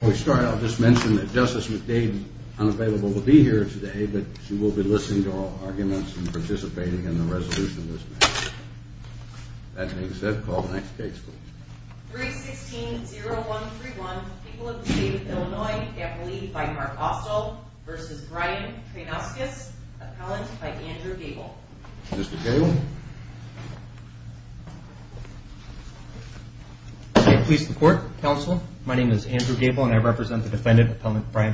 that Justice McDade unav today, but she will be li and participating in the match. That being said, c 3 16 0 1 3 1. People of Da by Mark. Also versus Brya by Andrew Gable. Mr Gable My name is Andrew Gable a defendant, appellant Bria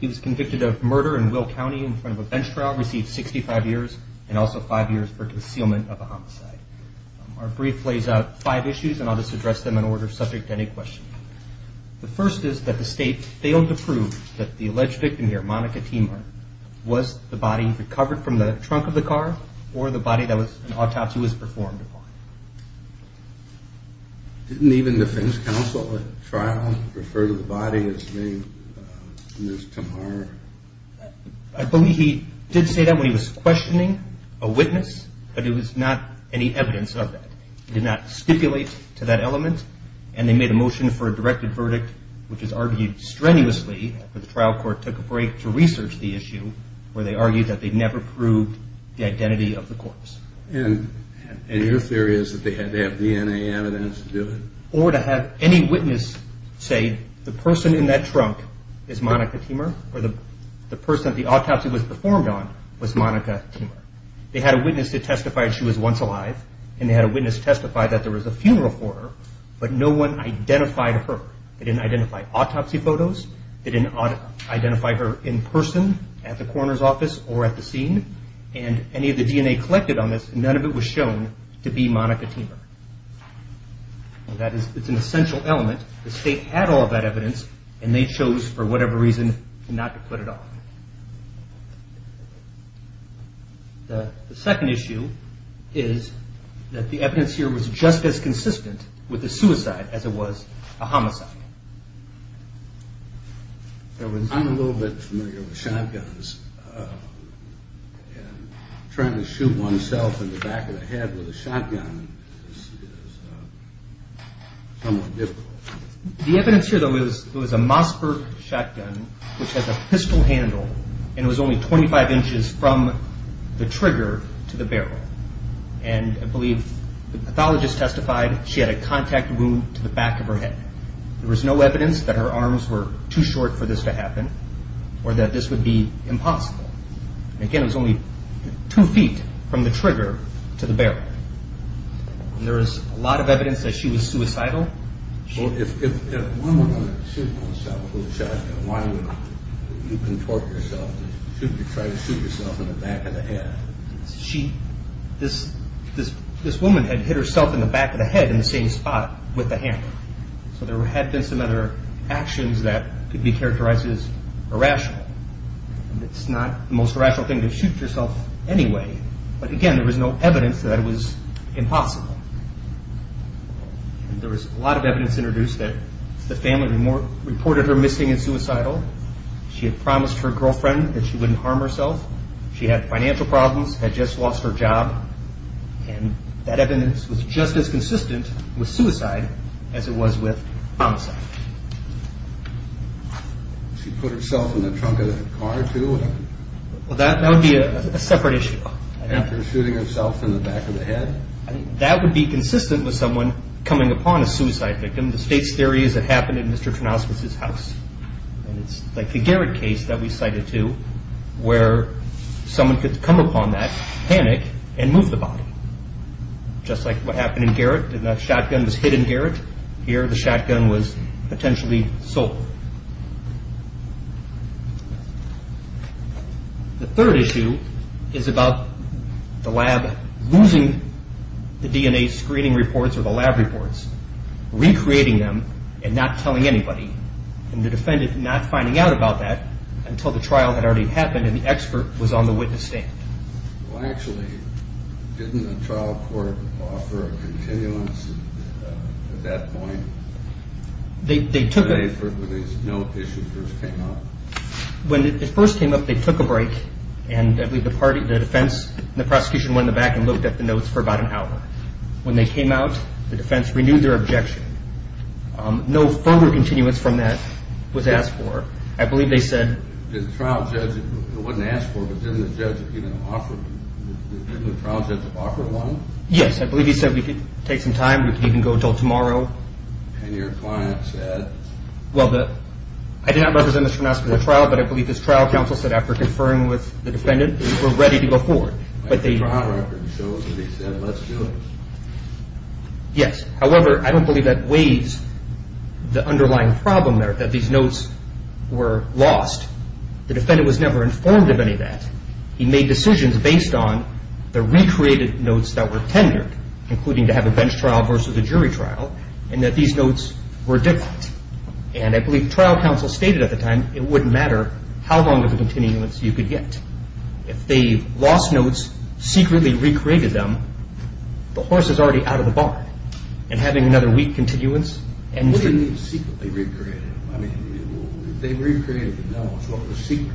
convicted of murder and w a bench trial received 65 years for concealment of lays out five issues and an order subject to any q is that the state failed alleged victim here, Moni body recovered from the t or the body that was an a upon. Didn't even the Fin refer to the body as me. he did say that when he w but it was not any eviden stipulate to that element for a directed verdict, w strenuously for the trial to research the issue whe proved the identity of th theory is that they had t to do it or to have any w in that trunk is Monica T the autopsy was performed They had a witness to tes alive and they had a witn there was a funeral for h her. They didn't identify didn't identify her in pe office or at the scene an collected on this. None o Monica teamer. That is, i element. The state had al they chose for whatever r it off. The second issue as it was a homicide. The familiar with shotguns. U in the back of the head w is somewhat difficult. Th was, it was a Mossberg sh handle and it was only 25 trigger to the barrel. An testified she had a contac of her head. There was no were too short for this t this would be impossible. two ft from the trigger t is a lot of evidence that Well, if if if one of the shot, why would you conto try to shoot yourself in She, this, this, this wom the back of the head in t the hand. So there had be that could be characteriz it's not the most rationa anyway. But again, there that it was impossible. T of evidence introduced th her missing and suicidal. her girlfriend that she w She had financial problem job and that evidence was with suicide as it was wi herself in the trunk of t that would be a separate himself in the back of th be consistent with someon victim. The state's theor Mr Trinospis his house. A case that we cited to whe upon that panic and move just like what happened was hidden Garrett here. sold. The third issue is losing the DNA screening reports, recreating them anybody and the defendant about that until the tria and the expert was on the Well, actually, didn't th a continuance at that poi for these no issues first first came up, they took the party, the defense, t the back and looked at th an hour. When they came o their objection. No furth that was asked for. I bel trial judge, it wasn't as for within the judge, even trial judge of offer one. we could take some time. tomorrow. And your client represent Mr Nascar the t his trial counsel said af defendant were ready to g trial record shows that h However, I don't believe problem there that these were lost. The defendant of any of that. He made d recreated notes that were to have a bench trial ver and that these notes were trial counsel stated at t matter how long of a cont get. If they lost notes, them, the horse is already and having another week c they recreated, they recr the secret.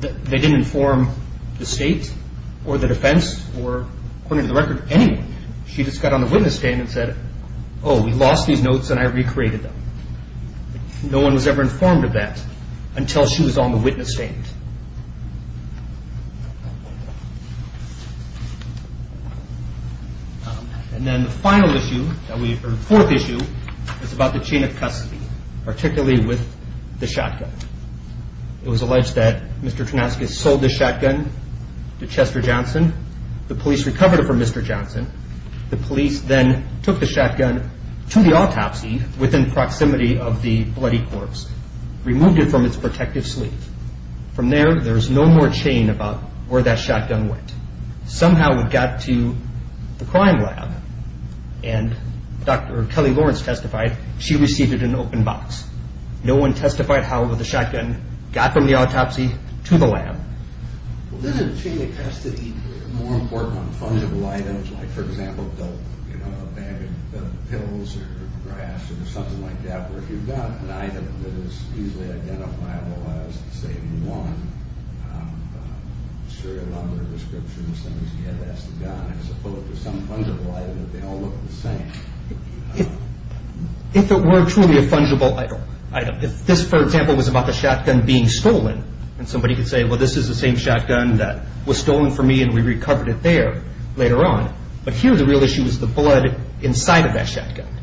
They didn't i or the defense or according She just got on the witnes we lost these notes and I one was ever informed of on the witness standings. And then the final issue It's about the chain of c with the shotgun. It was Trinasca sold the shotgun The police recovered it f police then took the shot within proximity of the b it from its protective sl there's no more chain abo went. Somehow we got to t kelly Lawrence testified, box. No one testified how got from the autopsy to t chain of custody more imp like for example, you kno or grass or something lik you've got an item that i I was the same one. Um, s saying, yeah, that's the some fungible item that t same. If it were truly a if this, for example, was being stolen and somebody is the same shotgun that and we recovered it there the real issue is the blo shotgun.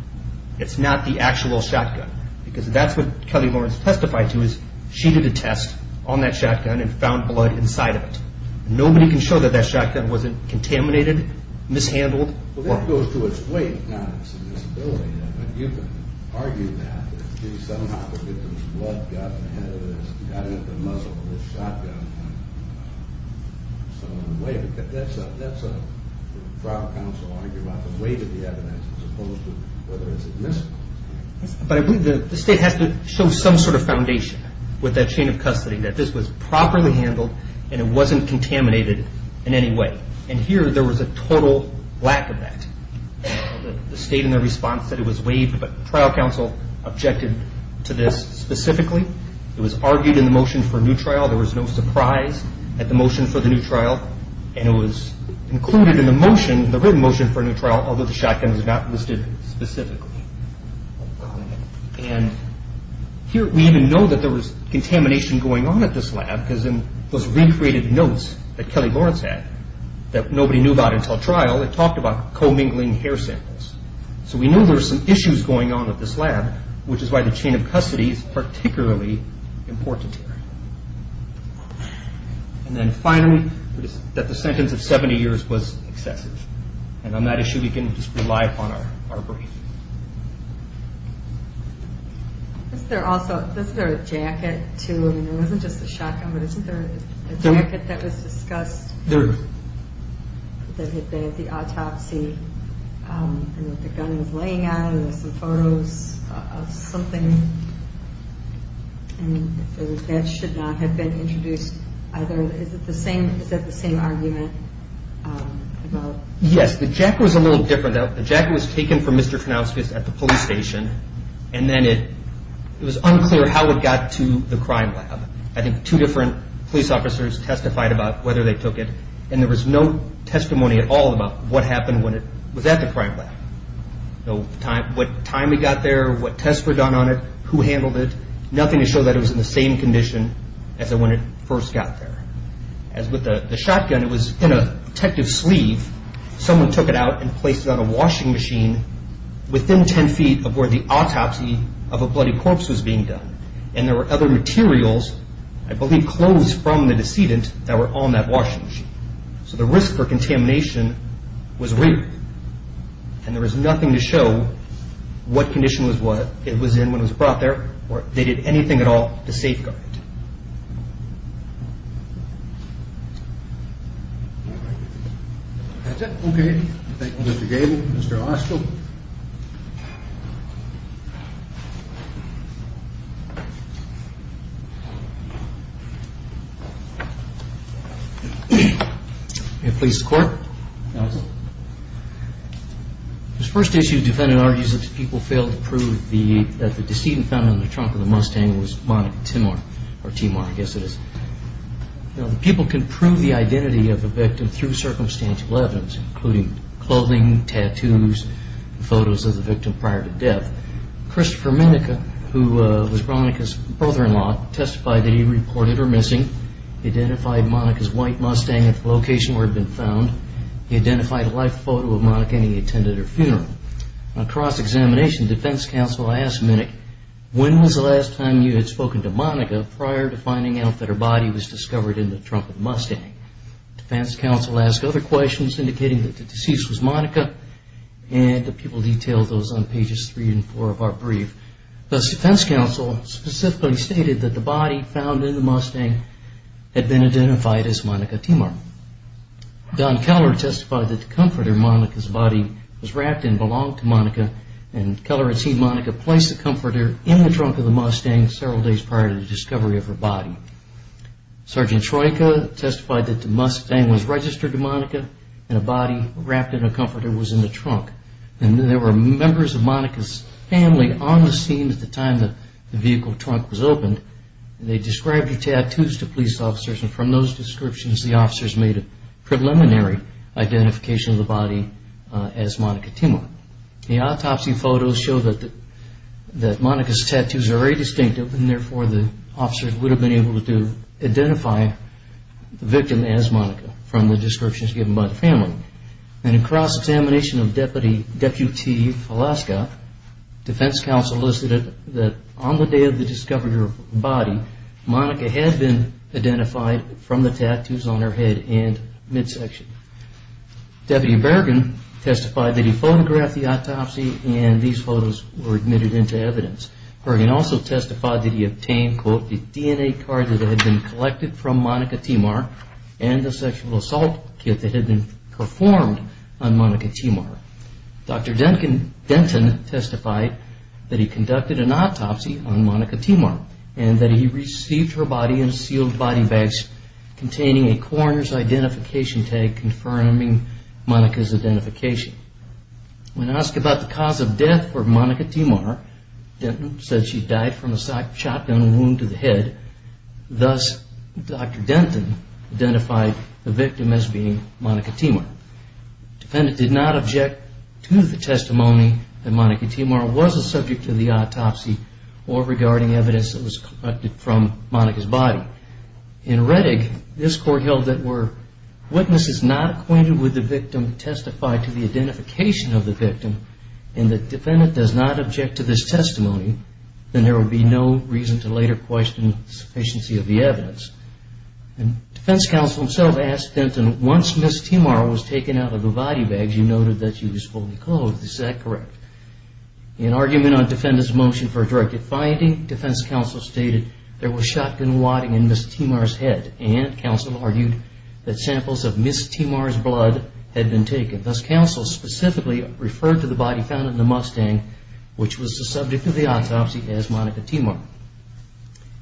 It's not the act because that's what kelly is. She did a test on tha blood inside of it. Nobod wasn't contaminated, mish to its weight. You can ar how to get those blood go the muzzle of the shotgun that's a that's a trial c the weight of the evidence whether it's a yes, but to show some sort of foun of custody that this was it wasn't contaminated in was a total lack of that. response that it was waive objected to this specific the motion for a new trial at the motion for the new in the motion, the written the shotgun is not listed here. We even know that t going on at this lab beca notes that kelly Lawrence about until trial. It tal hair samples. So we know going on with this lab, w of custody is particularl then finally that the sen was excessive. And on tha rely upon our brain. Is t a jacket to? I mean, it w but isn't there a jacket there that had been at th the gun was laying out of of something and that sho introduced either. Is it the same argument? Yes, t different. The jacket was pronounced at the police unclear how it got to the two different police offi whether they took it. And at all about what happened the crime lab. No time, w what tests were done on i to show that it was in the got there. As with the sho sleeve, someone took it o a washing machine within autopsy of a bloody corp were other materials, I b the decedent that were on So the risk for contamina there is nothing to show it was in when it was brou anything at all to safeg to court. His first issu The decedent found on t was Monica Timor or Timo circumstantial evidence, tattoos, photos of the vi Christopher Menneke, who monica's white mustang at been found. He identified minute. When was the last to monica prior to finding was discovered in the tru the deceased was monica a Council specifically stat as monica Timor. Don kelle comforter monica's body w the comforter in the trun several days prior to the to monica and a body wrap was in the trunk and there monica's family on the sc vehicle trunk was opened. tattoos to police officer the officers made a prele the body as monica Timor. monica's tattoos are very the officers would have b identify the victim as mo of deputy deputy Alaska D body, monica had been ide on her head and midsection testified that he photogr into evidence. Bergen als obtained quote the DNA ca from monica Timor and the that had been performed o Duncan Denton testified t autopsy on monica Timor a a coroner's identificatio identification. When I as death for monica Timor, D from a shotgun wound to t Denton identified the vic Timor. Defendant did not that monica Timor was a s or regarding evidence tha body. In Reddick, this co to the identification of defendant does not object then there will be no rea sufficiency of the evidenc himself asked them to once out of the body bags, you fully closed. Is that cor defendant's motion for a Council stated there was Miss Timor's head and coun taken. Thus, council spec to the body found in the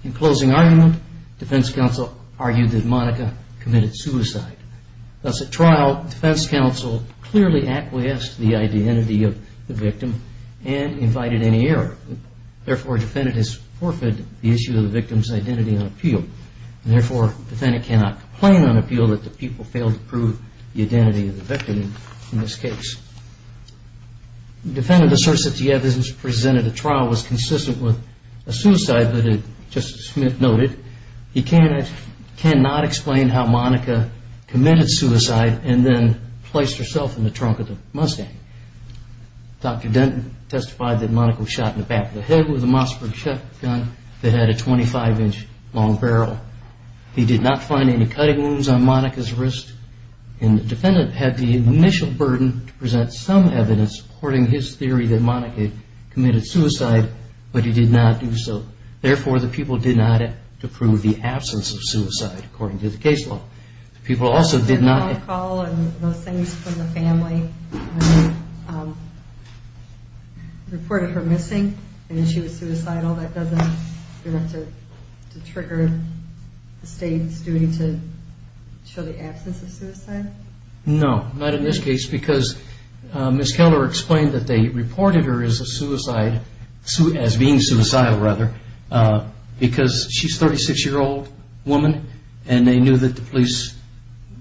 In closing argument, Defe that monica committed sui defense counsel clearly of the victim and invited defendant has forfeited th identity on appeal. And t cannot complain on appeal in this case. Defendant a presented a trial was cons that it just noted he can how monica committed suici herself in the trunk of t back of the head with a m that had a 25 inch long b any cutting wounds on mon and the defendant had the present some evidence acc the people did not approve suicide. According to the also did not call and thos that doesn't have to trigg as a suicide? No, not in keller explained that the a suicide as being suicid she's 36 year old woman a police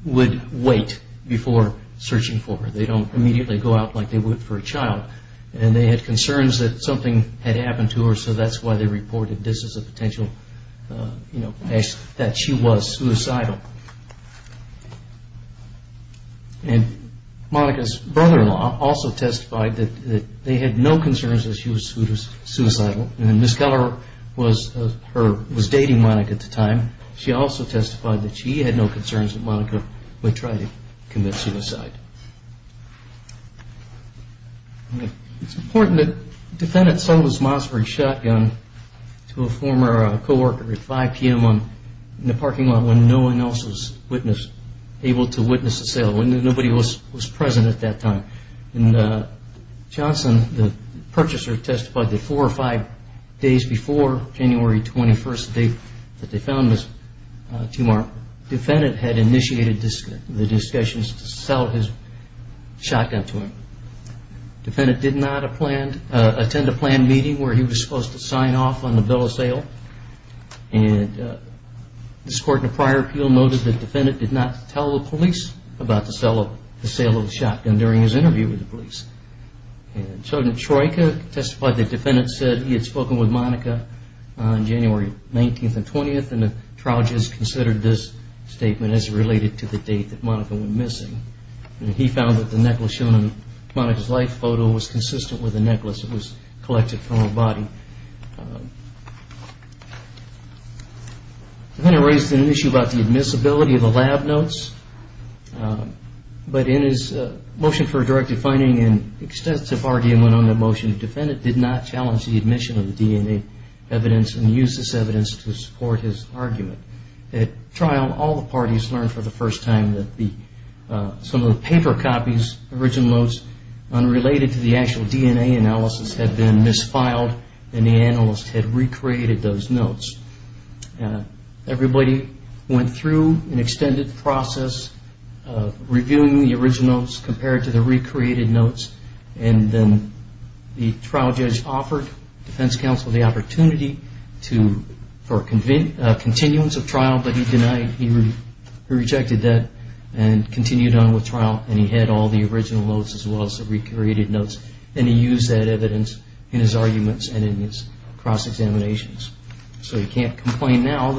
would wait before don't immediately go out a child. And they had con had happened to her. So t this is a potential, you And monica's brother in l that they had no concern and miss keller was her w no concerns that monica w suicide. It's important t Mossberg shotgun to a for five p.m. On the parking a sale when nobody was pr And johnson, the purchas four or five days before this, the discussions to to him. Defendant did not a planned meeting where h sign off on the bill of s And uh, this court in a p that defendant did not te to sell the sale of the s the defendant said he had considered this statement date that monica went mis the necklace shown in mon consistent with the neckl Then I raised an issue ab of the lab notes. Um, but finding an extensive argu defendant did not challen the DNA evidence and use his argument. At trial, a for the first time that t copies, original notes un DNA analysis had been mis Everybody went through an to the recreated notes. A offered defense counsel t he rejected that and cont as well as the recreated that evidence in his argu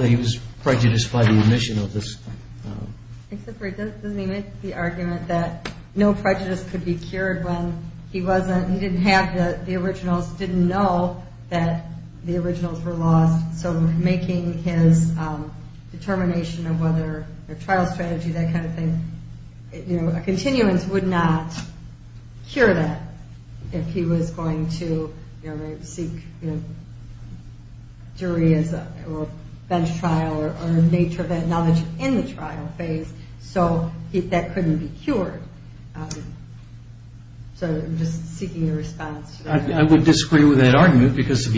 he was prejudiced by the could be cured when he wa the originals didn't know were lost. So making his of whether their trial st that if he was going to s or nature of that knowled phase. So that couldn't b that argument because if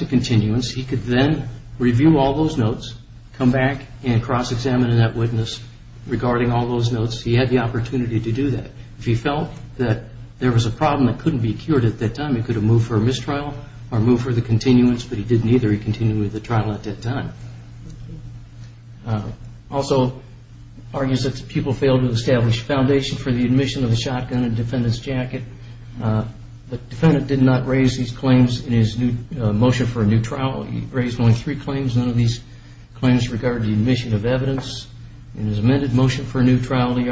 a continuance, he could t notes, come back and cros regarding all those notes to do that. If he felt th that couldn't be cured at a move for a mistrial or continuance, but he didn' with the trial at that ti for the admission of the jacket. Uh, the defendan claims in his new motion only three claims. None o motion for a new trial. T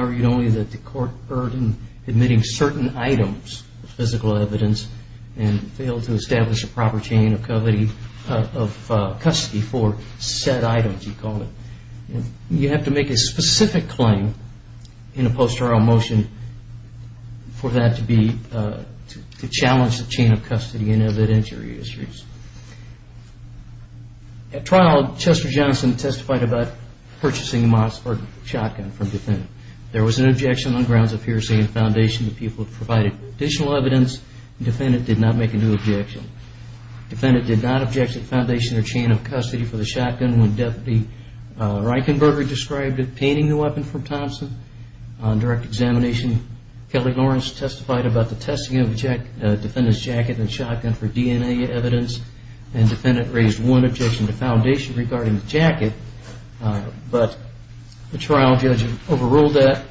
court burden admitting ce evidence and failed to es of custody for said item a poster on motion for t trial, Chester johnson te Mossberg shotgun from def objection on grounds of p people have provided addi not make a new objection Foundation or chain of cu when Deputy Reichenberger the weapon from Thompson. Kelly Lawrence testified object defendant's jacket DNA evidence and defendan the foundation regarding trial judge overruled that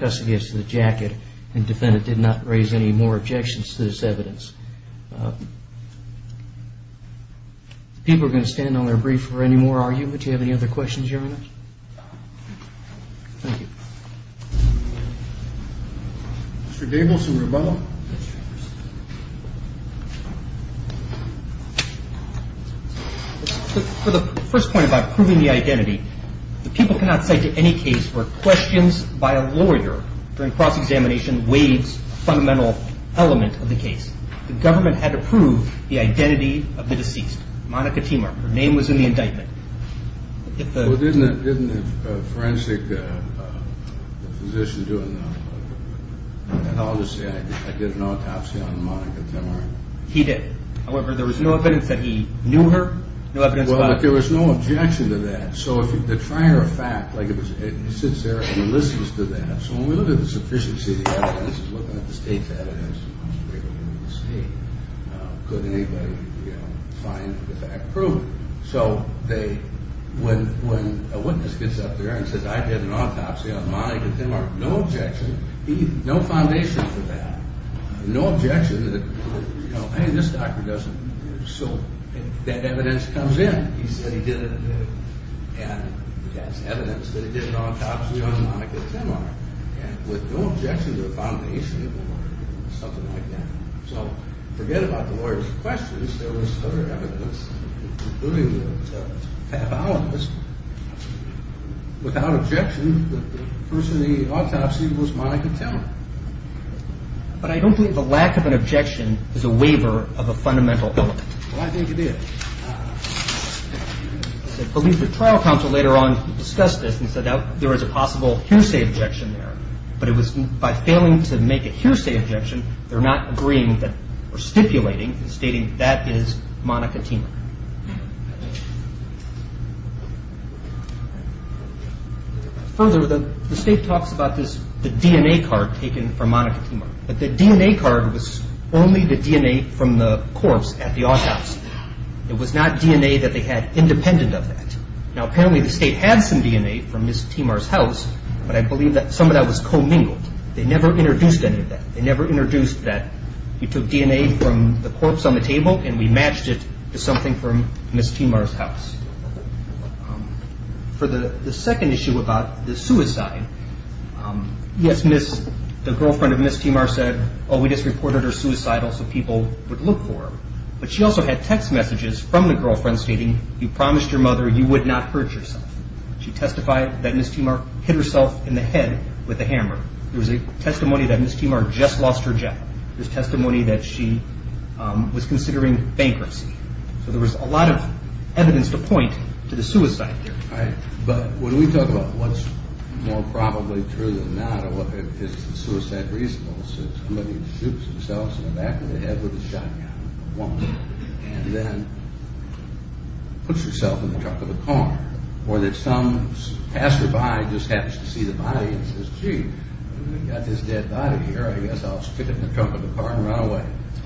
custody as to the jacket did not raise any more ob evidence. Uh, people are their brief for any more any other questions? You'r cannot say to any case wh cross examination waves. of the case. The governme identity of the deceased. was in the indictment. Di uh, physician doing that was no evidence that he k was no objection to that. fact, like it was, it sit to that. So when we look the evidence is looking a state. Uh, could anybody prove? So they, when, wha up there and said, I did them are no objection. He that. No objection. You k doesn't. So that evidence evidence that he did an a Tim are and with no objec or something like that. S lawyers questions. There including the pathologist But I don't think the lac is a waiver of a fundamen did. I believe the trial this and said that there objection there, but it w a hearsay objection, the are stipulating and stati team. Further, the state the DNA card taken from M DNA card was only the DNa house. It was not DNA tha of that. Now, apparently DNA from Miss Timar's hou that some of that was com introduced any of that. T that you took DNA from th and we matched it to some house. Um, for the second Timar said, oh, we just r people would look for. Bu messages from the girlfri your mother, you would no testified that Miss Timar head with a hammer. There Miss Timar just lost her that she was considering was a lot of evidence to there. But when we talk a through the matter, it's somebody shoots themselv head with a shotgun and t the trunk of the car or t by just happens to see th got this dead body here. in the trunk of the car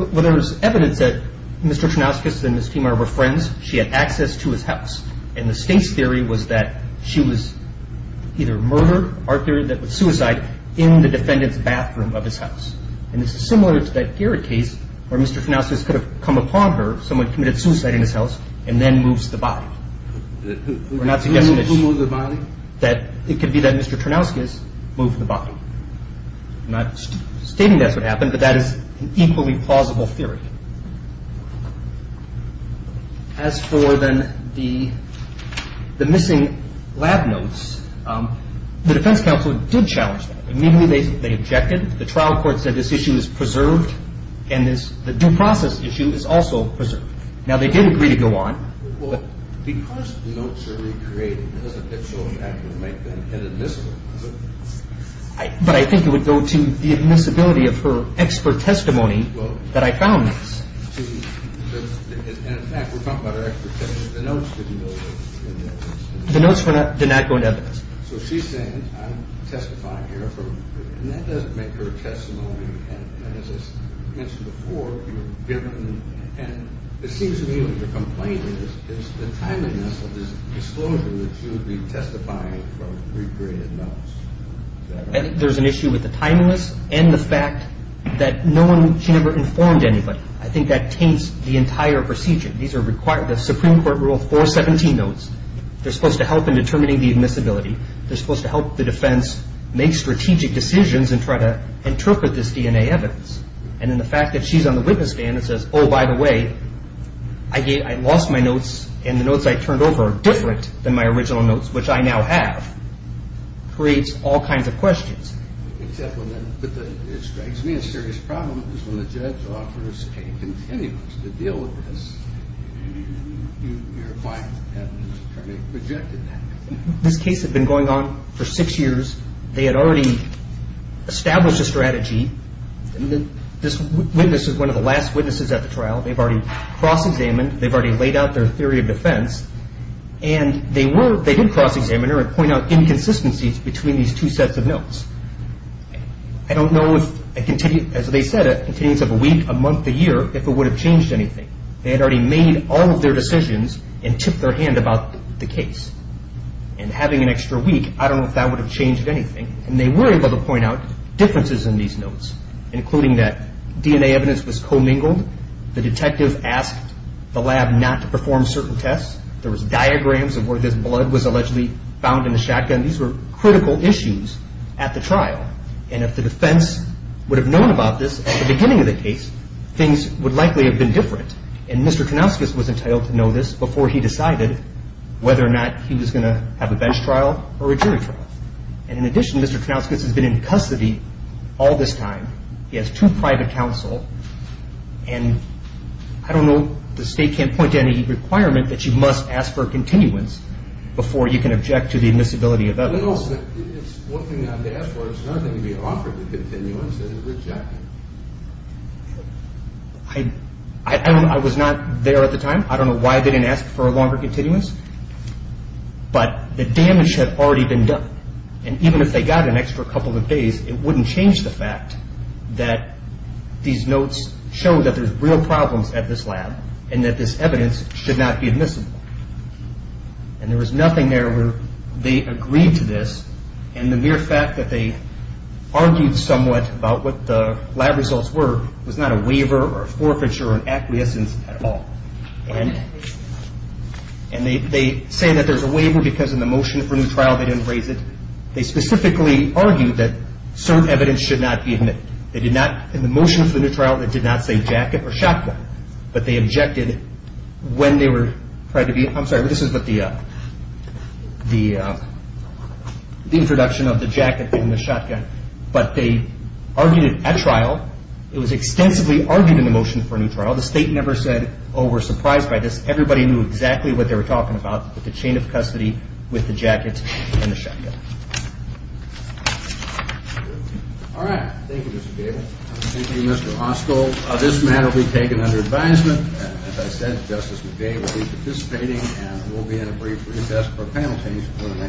a evidence that Mr Trinasca were friends. She had acc And the state's theory wa that she was either murde suicide in the defendant' And this is similar to th Mr Trinasca could have co committed suicide in his the body. We're not sugge body that it could be that the body. I'm not stating but that is an equally pl notes. Um, the defense co that immediately. They ob court said this issue is due process issue is also did agree to go on. Well, recreated, it doesn't, it it would go to the admiss testimony that I found th talking about our expert So she's saying I'm testi doesn't make her testimony before you're given. And your complaint is the tim notes. There's an issue w and the fact that no one anybody. I think that tai These are required. The S 4 17 notes. They're suppo supposed to help the defen evidence. And in the fact witness stand and says, O I lost my notes and the n are different than my ori I now have creates all ki when the judge offers a c going on for six years. T a strategy. This witness at the trial. They've alr They've already laid out And they were, they did c out inconsistencies betwe of notes. I don't know if if it would have changed already made all of their and tip their hand about an extra week. I don't kn have changed anything. An point out differences in that DNA evidence was com asked the lab not to perf found in the shotgun. Thes at the trial. And if the known about this at the b things would likely have he decided whether or not has been in custody all t private counsel. And I do can't point to any requir ask for a continuance befo the admissibility of ever to ask for. It's nothing and rejected. I don't, I time. I don't know why th longer continuance, but t been done. And even if th couple of days, it wouldn that these notes show tha at this lab and that this be admissible. And there where they agreed to this about what the lab result or forfeiture or acquiesc they say that there's a wa motion for a new trial, t They specifically argued should not be in it. They for the new trial that di or shotgun, but they obje to be, I'm sorry, this is the, uh, the, uh, the int and the shotgun, but they It was extensively argued trial. The state never sa by this. Everybody knew e talking about the chain o under advisement. As I sa